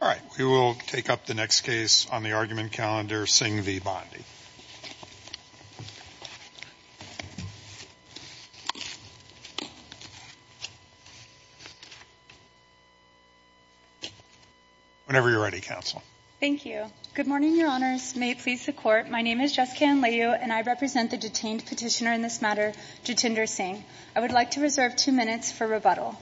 All right, we will take up the next case on the argument calendar, Singh v. Bondi. Whenever you're ready, Counsel. Thank you. Good morning, Your Honors. May it please the Court, my name is Jessica Anlayu and I represent the detained petitioner in this matter, Jitinder Singh. I would like to reserve two minutes for rebuttal.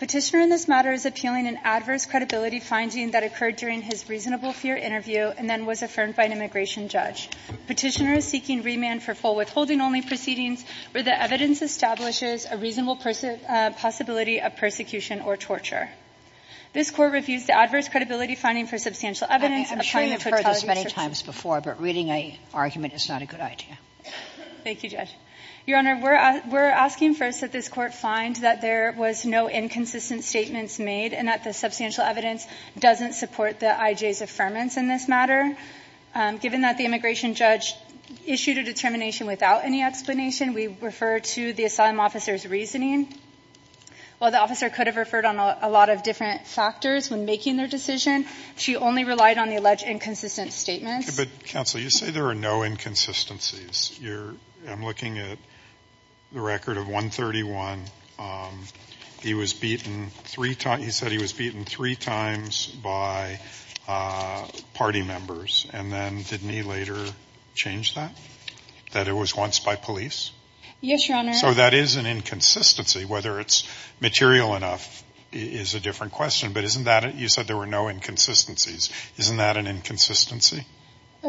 Petitioner in this matter is appealing an adverse credibility finding that occurred during his reasonable fear interview and then was affirmed by an immigration judge. Petitioner is seeking remand for full withholding only proceedings where the evidence establishes a reasonable possibility of persecution or torture. This Court reviews the adverse credibility finding for substantial evidence. I'm sure you've heard this many times before, but reading an argument is not a good idea. Thank you, Judge. Your Honor, we're asking first that this Court find that there was no inconsistent statements made and that the substantial evidence doesn't support the IJ's affirmance in this matter. Given that the immigration judge issued a determination without any explanation, we refer to the asylum officer's reasoning. While the officer could have referred on a lot of different factors when making their decision, she only relied on the alleged inconsistent statements. Counsel, you say there are no inconsistencies. I'm looking at the record of 131. He said he was beaten three times by party members, and then didn't he later change that, that it was once by police? Yes, Your Honor. So that is an inconsistency. Whether it's material enough is a different question. But isn't that – you said there were no inconsistencies. Isn't that an inconsistency?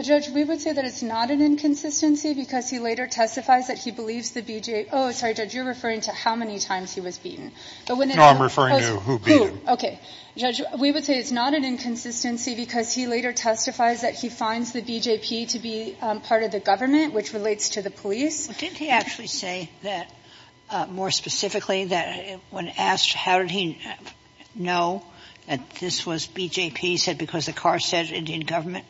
Judge, we would say that it's not an inconsistency because he later testifies that he believes the BJ – oh, sorry, Judge, you're referring to how many times he was beaten. No, I'm referring to who beat him. Okay. Judge, we would say it's not an inconsistency because he later testifies that he finds the BJP to be part of the government, which relates to the police. Well, didn't he actually say that more specifically that when asked how did he know that this was BJP, he said because the car said Indian government?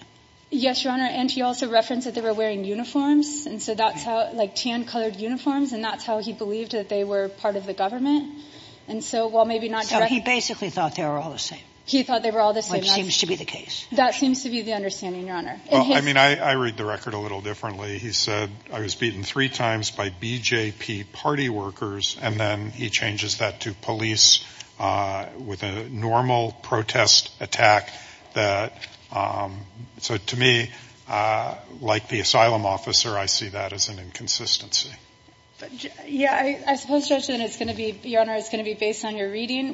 Yes, Your Honor, and he also referenced that they were wearing uniforms, and so that's how – like tan-colored uniforms, and that's how he believed that they were part of the government. And so while maybe not – So he basically thought they were all the same. He thought they were all the same. Which seems to be the case. That seems to be the understanding, Your Honor. Well, I mean, I read the record a little differently. He said, I was beaten three times by BJP party workers, and then he changes that to police with a normal protest attack that – so to me, like the asylum officer, I see that as an inconsistency. Yeah, I suppose, Judge, that it's going to be – Your Honor, it's going to be based on your reading.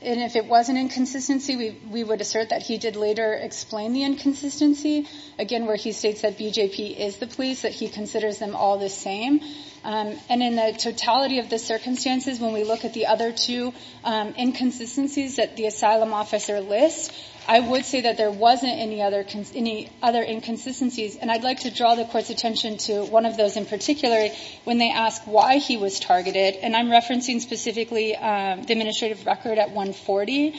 And if it was an inconsistency, we would assert that he did later explain the inconsistency, again, where he states that BJP is the police, that he considers them all the same. And in the totality of the circumstances, when we look at the other two inconsistencies that the asylum officer lists, I would say that there wasn't any other – any other inconsistencies. And I'd like to draw the Court's attention to one of those in particular when they ask why he was targeted. And I'm referencing specifically the administrative record at 140.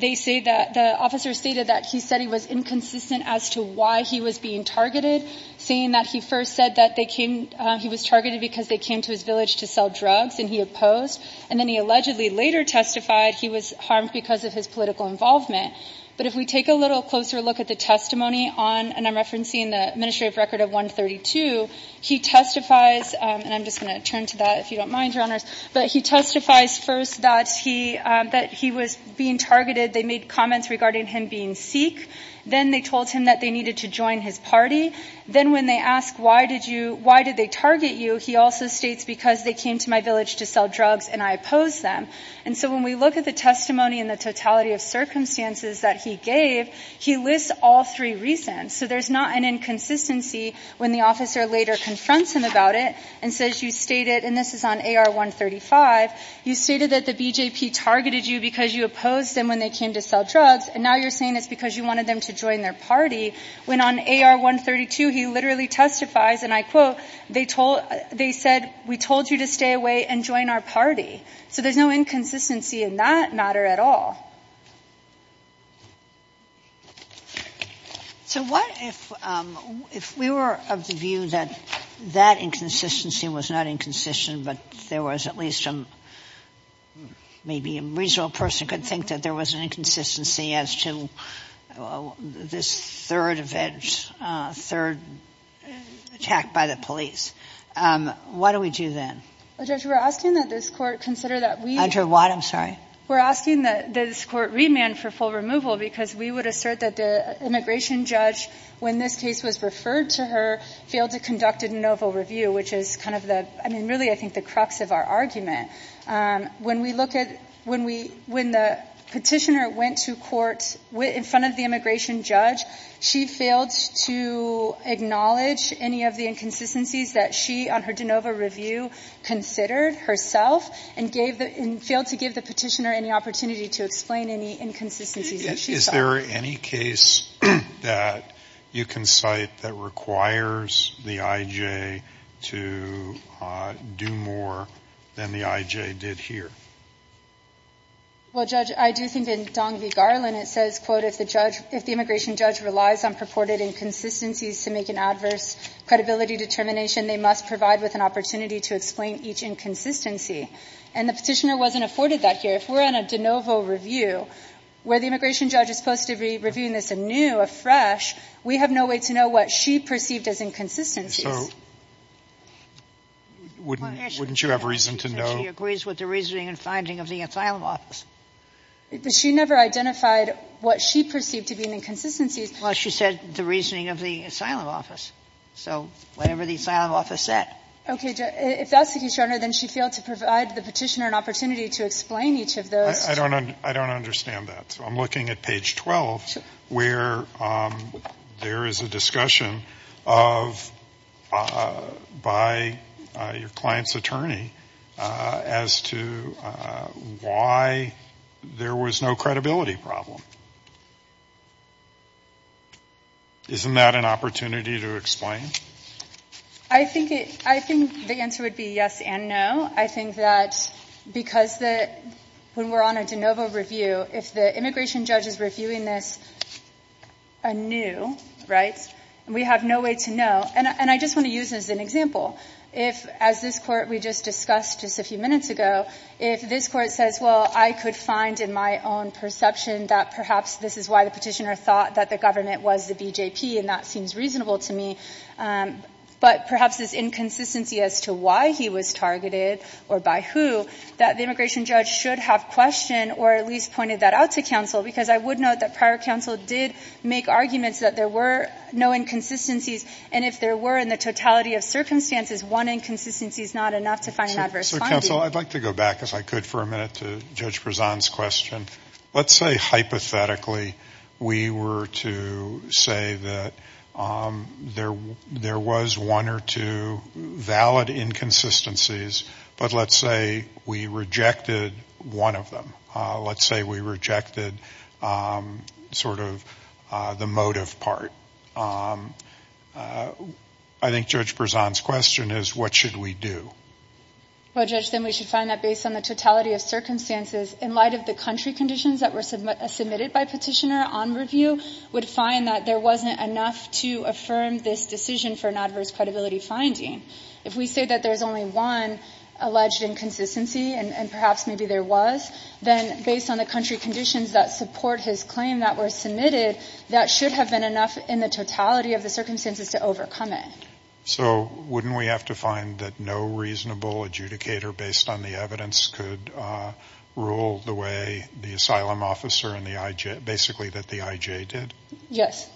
They say that – the officer stated that he said he was inconsistent as to why he was being targeted, saying that he first said that they came – he was targeted because they came to his village to sell drugs, and he opposed. And then he allegedly later testified he was harmed because of his political involvement. But if we take a little closer look at the testimony on – and I'm referencing the administrative record of 132, he testifies – and I'm just going to turn to that if you don't mind, Your Honors. But he testifies first that he – that he was being targeted. They made comments regarding him being Sikh. Then they told him that they needed to join his party. Then when they ask why did you – why did they target you, he also states because they came to my village to sell drugs and I opposed them. And so when we look at the testimony and the totality of circumstances that he gave, he lists all three reasons. So there's not an inconsistency when the officer later confronts him about it and says you stated – and this is on AR-135 – you stated that the BJP targeted you because you opposed them when they came to sell drugs, and now you're saying it's because you wanted them to join their party, when on AR-132 he literally testifies, and I quote, they told – they said we told you to stay away and join our party. So there's no inconsistency in that matter at all. So what if – if we were of the view that that inconsistency was not inconsistent but there was at least a – maybe a reasonable person could think that there was an inconsistency as to this third event, third attack by the police. Why do we do that? Judge, we're asking that this Court consider that we – Andra, what? I'm sorry. We're asking that this Court remand for full removal because we would assert that the immigration judge, when this case was referred to her, failed to conduct a de novo review, which is kind of the – I mean, really I think the crux of our argument. When we look at – when we – when the petitioner went to court in front of the immigration judge, she failed to acknowledge any of the inconsistencies that she, on her de novo review, considered herself and gave the – and failed to give the petitioner any opportunity to explain any inconsistencies that she saw. Is there any case that you can cite that requires the IJ to do more than the IJ did here? Well, Judge, I do think in Dong v. Garland it says, quote, if the judge – if the immigration judge relies on purported inconsistencies to make an adverse credibility determination, they must provide with an opportunity to explain each inconsistency. And the petitioner wasn't afforded that here. If we're on a de novo review where the immigration judge is supposed to be reviewing this anew, afresh, we have no way to know what she perceived as inconsistencies. So wouldn't you have reason to know? She agrees with the reasoning and finding of the asylum office. But she never identified what she perceived to be an inconsistency. Well, she said the reasoning of the asylum office. So whatever the asylum office said. If that's the case, Your Honor, then she failed to provide the petitioner an opportunity to explain each of those. I don't understand that. So I'm looking at page 12 where there is a discussion of – by your client's attorney as to why there was no credibility problem. Isn't that an opportunity to explain? I think the answer would be yes and no. I think that because when we're on a de novo review, if the immigration judge is reviewing this anew, right, we have no way to know. And I just want to use this as an example. If, as this Court, we just discussed just a few minutes ago, if this Court says, well, I could find in my own perception that perhaps this is why the petitioner thought that the government was the BJP, and that seems reasonable to me, but perhaps this inconsistency as to why he was targeted or by who, that the immigration judge should have questioned or at least pointed that out to counsel. Because I would note that prior counsel did make arguments that there were no inconsistencies. And if there were in the totality of circumstances, one inconsistency is not enough to find an adverse finding. So, counsel, I'd like to go back, if I could, for a minute to Judge Prezan's question. Let's say hypothetically we were to say that there was one or two valid inconsistencies, but let's say we rejected one of them. Let's say we rejected sort of the motive part. I think Judge Prezan's question is, what should we do? Well, Judge, then we should find that based on the totality of circumstances, in light of the country conditions that were submitted by petitioner on review, would find that there wasn't enough to affirm this decision for an adverse credibility finding. If we say that there's only one alleged inconsistency, and perhaps maybe there was, then based on the country conditions that support his claim that were submitted, that should have been enough in the totality of the circumstances to overcome it. So wouldn't we have to find that no reasonable adjudicator based on the evidence could rule the way the asylum officer and the IJ, basically that the IJ did? Yes.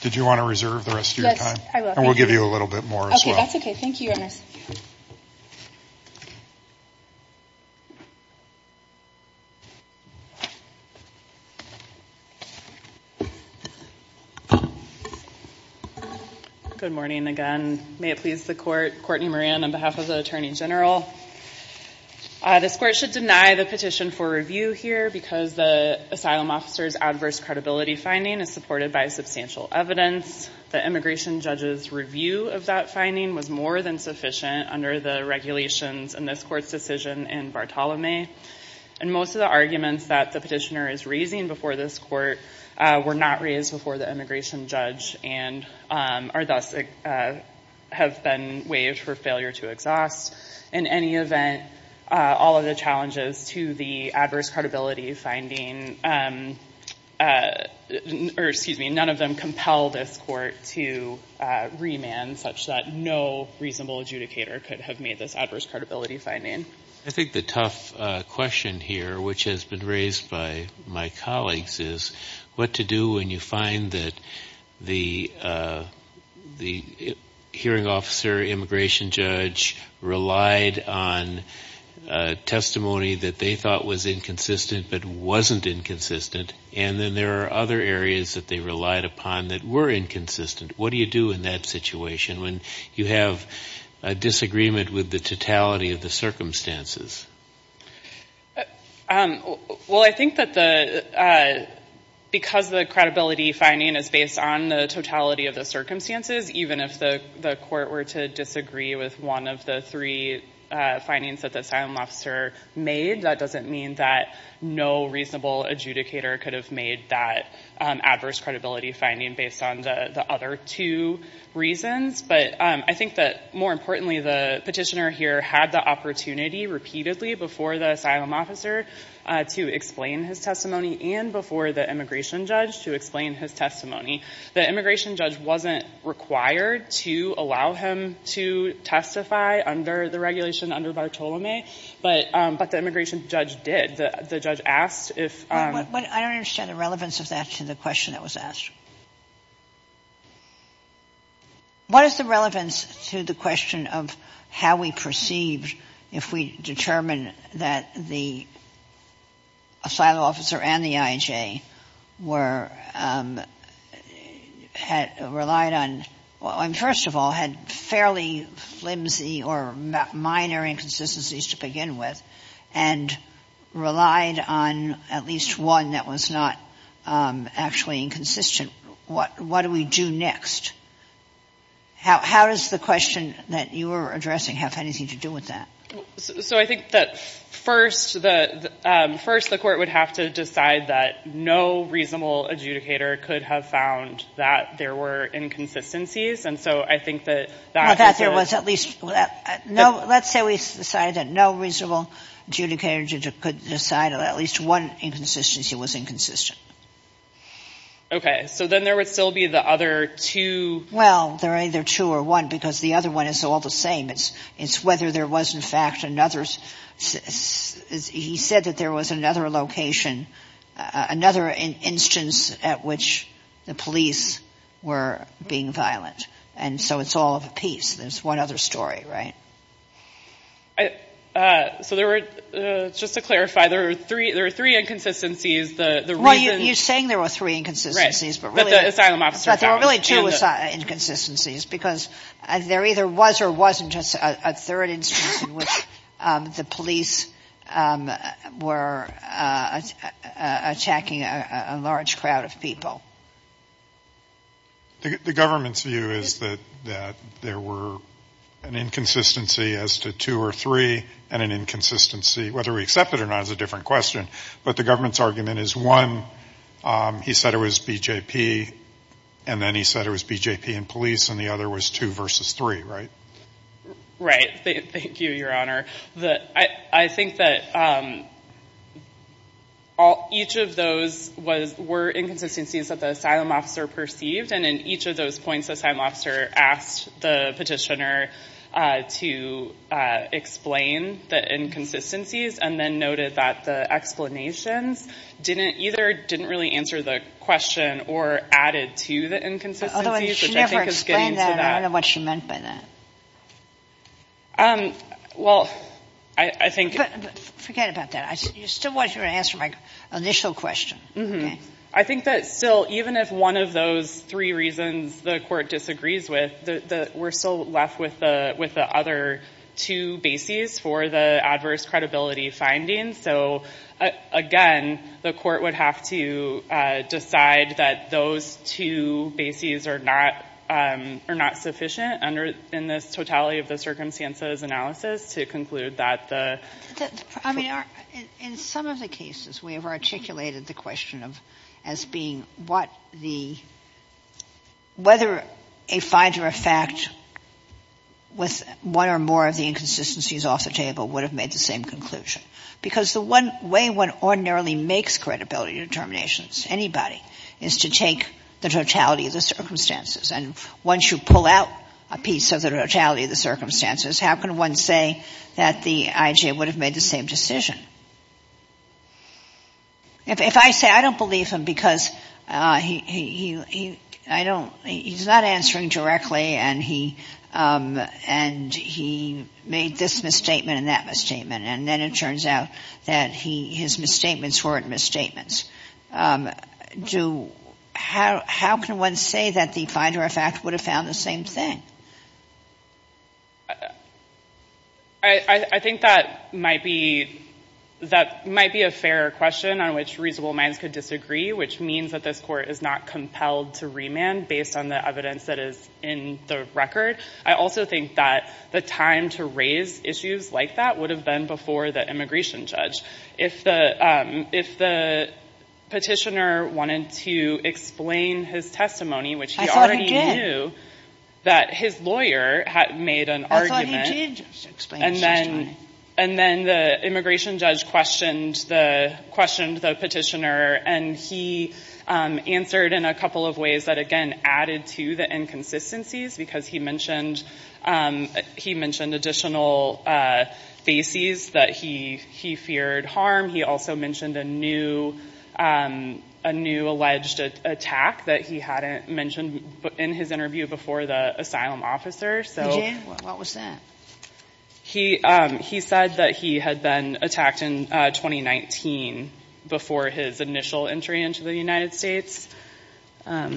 Did you want to reserve the rest of your time? Yes, I will. Thank you. And we'll give you a little bit more as well. That's okay. Thank you. Good morning again. May it please the Court. Courtney Moran on behalf of the Attorney General. This Court should deny the petition for review here because the asylum officer's adverse credibility finding is supported by substantial evidence. The immigration judge's review of that finding was more than sufficient under the regulations in this Court's decision in Bartolome. And most of the arguments that the petitioner is raising before this Court were not raised before the immigration judge and thus have been waived for failure to exhaust. In any event, all of the challenges to the adverse credibility finding, or excuse me, none of them compel this Court to remand such that no reasonable adjudicator could have made this adverse credibility finding. I think the tough question here, which has been raised by my colleagues, is what to do when you find that the hearing officer, immigration judge, relied on testimony that they thought was inconsistent but wasn't inconsistent and then there are other areas that they relied upon that were inconsistent. What do you do in that situation when you have a disagreement with the totality of the circumstances? Well, I think that because the credibility finding is based on the totality of the circumstances, even if the Court were to disagree with one of the three findings that the asylum officer made, that doesn't mean that no reasonable adjudicator could have made that adverse credibility finding based on the other two reasons. But I think that, more importantly, the petitioner here had the opportunity repeatedly before the asylum officer to explain his testimony and before the immigration judge to explain his testimony. The immigration judge wasn't required to allow him to testify under the regulation under Bartolome, but the immigration judge did. The judge asked if — I don't understand the relevance of that to the question that was asked. What is the relevance to the question of how we perceived if we determined that the asylum officer and the IHA were — had relied on — first of all, had fairly flimsy or minor inconsistencies to begin with and relied on at least one that was not actually inconsistent, what do we do next? How does the question that you were addressing have anything to do with that? So I think that first the court would have to decide that no reasonable adjudicator could have found that there were inconsistencies, and so I think that — Or that there was at least — let's say we decided that no reasonable adjudicator could decide that at least one inconsistency was inconsistent. Okay. So then there would still be the other two — Well, they're either two or one because the other one is all the same. It's whether there was, in fact, another — he said that there was another location, another instance at which the police were being violent. And so it's all of a piece. There's one other story, right? So there were — just to clarify, there were three inconsistencies. The reason — Well, you're saying there were three inconsistencies, but really — Right. But the asylum officer found — There were two inconsistencies because there either was or wasn't just a third instance in which the police were attacking a large crowd of people. The government's view is that there were an inconsistency as to two or three and an inconsistency whether we accept it or not is a different question. But the government's argument is, one, he said it was BJP, and then he said it was BJP and police, and the other was two versus three, right? Right. Thank you, Your Honor. I think that each of those were inconsistencies that the asylum officer perceived, and in each of those points the asylum officer asked the petitioner to explain the inconsistencies and then noted that the explanations either didn't really answer the question or added to the inconsistencies, which I think is getting to that. Although she never explained that, and I don't know what she meant by that. Well, I think — Forget about that. You still want your answer to my initial question, okay? I think that still, even if one of those three reasons the Court disagrees with, we're still left with the other two bases for the adverse credibility findings. So, again, the Court would have to decide that those two bases are not sufficient in this totality of the circumstances analysis to conclude that the — I mean, in some of the cases we have articulated the question as being what the — whether a find or a fact with one or more of the inconsistencies off the table would have made the same conclusion. Because the one way one ordinarily makes credibility determinations, anybody, is to take the totality of the circumstances. And once you pull out a piece of the totality of the circumstances, how can one say that the IJ would have made the same decision? If I say I don't believe him because he's not answering directly and he made this misstatement and that misstatement, and then it turns out that his misstatements weren't misstatements, how can one say that the find or a fact would have found the same thing? I think that might be a fair question on which reasonable minds could disagree, which means that this Court is not compelled to remand based on the evidence that is in the record. I also think that the time to raise issues like that would have been before the immigration judge. If the petitioner wanted to explain his testimony, which he already knew that his lawyer had made an argument, and then the immigration judge questioned the petitioner, and he answered in a couple of ways that, again, added to the inconsistencies because he mentioned additional bases that he feared harm. He also mentioned a new alleged attack that he hadn't mentioned in his interview before the asylum officer. What was that? He said that he had been attacked in 2019 before his initial entry into the United States. All right,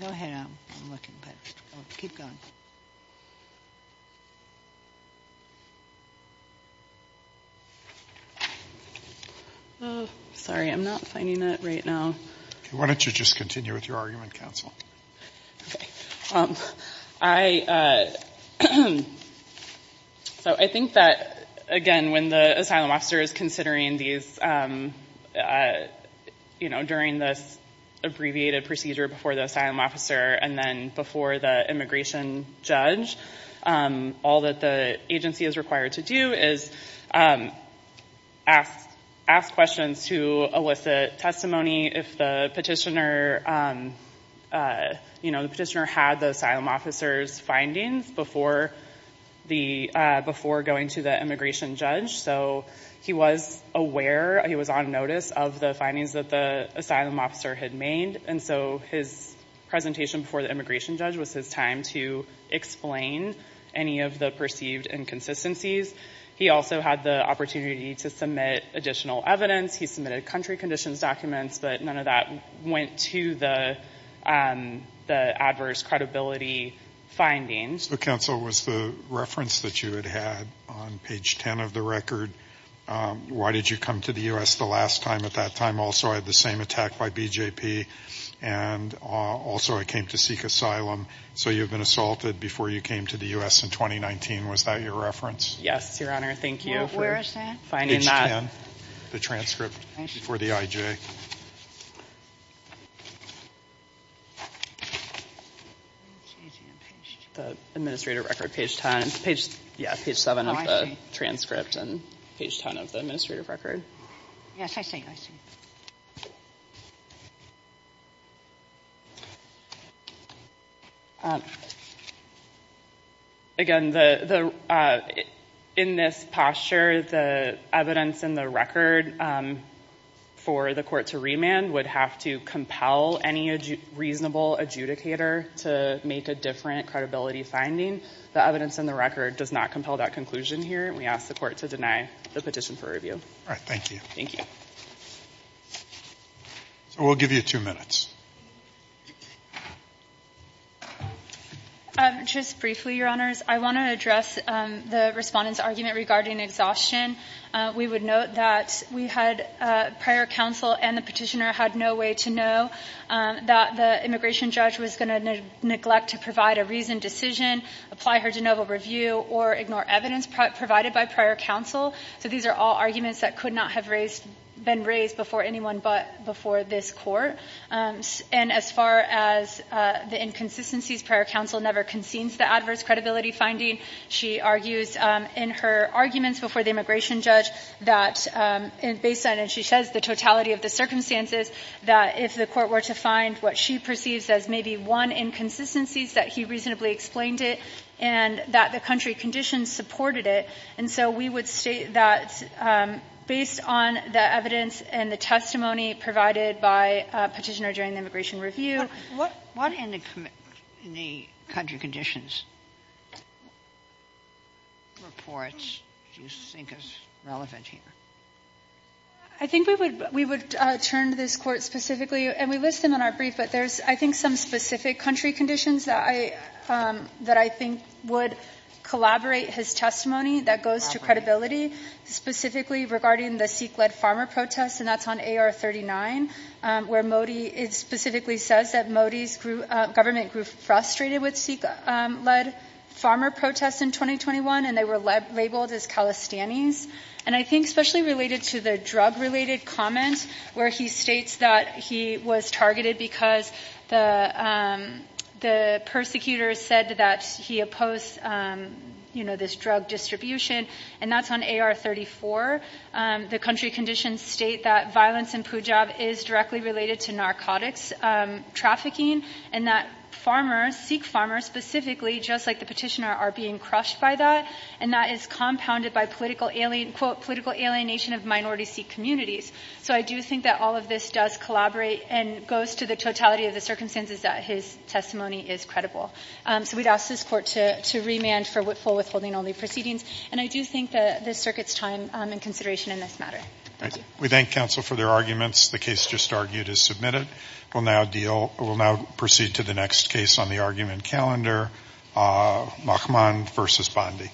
go ahead. I'm looking, but keep going. Sorry, I'm not finding it right now. Why don't you just continue with your argument, counsel? Okay. So I think that, again, when the asylum officer is considering these, you know, during this abbreviated procedure before the asylum officer and then before the immigration judge, all that the agency is required to do is ask questions to elicit testimony if the petitioner had the asylum officer's findings before going to the immigration judge. So he was aware, he was on notice of the findings that the asylum officer had made, and so his presentation before the immigration judge was his time to explain any of the perceived inconsistencies. He also had the opportunity to submit additional evidence. He submitted country conditions documents, but none of that went to the adverse credibility findings. So, counsel, was the reference that you had had on page 10 of the record, why did you come to the U.S. the last time? At that time, also, I had the same attack by BJP, and also I came to seek asylum. So you had been assaulted before you came to the U.S. in 2019. Was that your reference? Yes, Your Honor. Thank you for finding that. Page 10, the transcript before the IJ. Okay. The administrative record, page 10, yeah, page 7 of the transcript and page 10 of the administrative record. Yes, I see, I see. Again, in this posture, the evidence in the record for the court to remand would have to compel any reasonable adjudicator to make a different credibility finding. The evidence in the record does not compel that conclusion here, and we ask the court to deny the petition for review. All right, thank you. Thank you. So we'll give you two minutes. Just briefly, Your Honors, I want to address the respondent's argument regarding exhaustion. We would note that we had prior counsel and the petitioner had no way to know that the immigration judge was going to neglect to provide a reasoned decision, apply her de novo review, or ignore evidence provided by prior counsel. So these are all arguments that could not have been raised before anyone but before this court. And as far as the inconsistencies, prior counsel never concedes the adverse credibility finding. She argues in her arguments before the immigration judge that based on, as she says, the totality of the circumstances, that if the court were to find what she perceives as maybe one inconsistencies, that he reasonably explained it and that the country conditions supported it. And so we would state that based on the evidence and the testimony provided by Petitioner during the immigration review. What in the country conditions reports do you think is relevant here? I think we would turn to this Court specifically, and we list them in our brief, but there's, I think, some specific country conditions that I think would collaborate his testimony that goes to credibility, specifically regarding the Sikh-led farmer protests, and that's on AR-39, where it specifically says that Modi's government grew frustrated with Sikh-led farmer protests in 2021, and they were labeled as Calistanis. And I think especially related to the drug-related comment where he states that he was targeted because the persecutors said that he opposed, you know, this drug distribution, and that's on AR-34. The country conditions state that violence in Pujab is directly related to narcotics trafficking, and that farmers, Sikh farmers specifically, just like the Petitioner, are being crushed by that, and that is compounded by political alienation of minority Sikh communities. So I do think that all of this does collaborate and goes to the totality of the circumstances that his testimony is credible. So we'd ask this Court to remand for full withholding only proceedings, and I do think that this circuit's time and consideration in this matter. Thank you. We thank counsel for their arguments. The case just argued is submitted. We'll now proceed to the next case on the argument calendar, Mahmoud v. Bondi.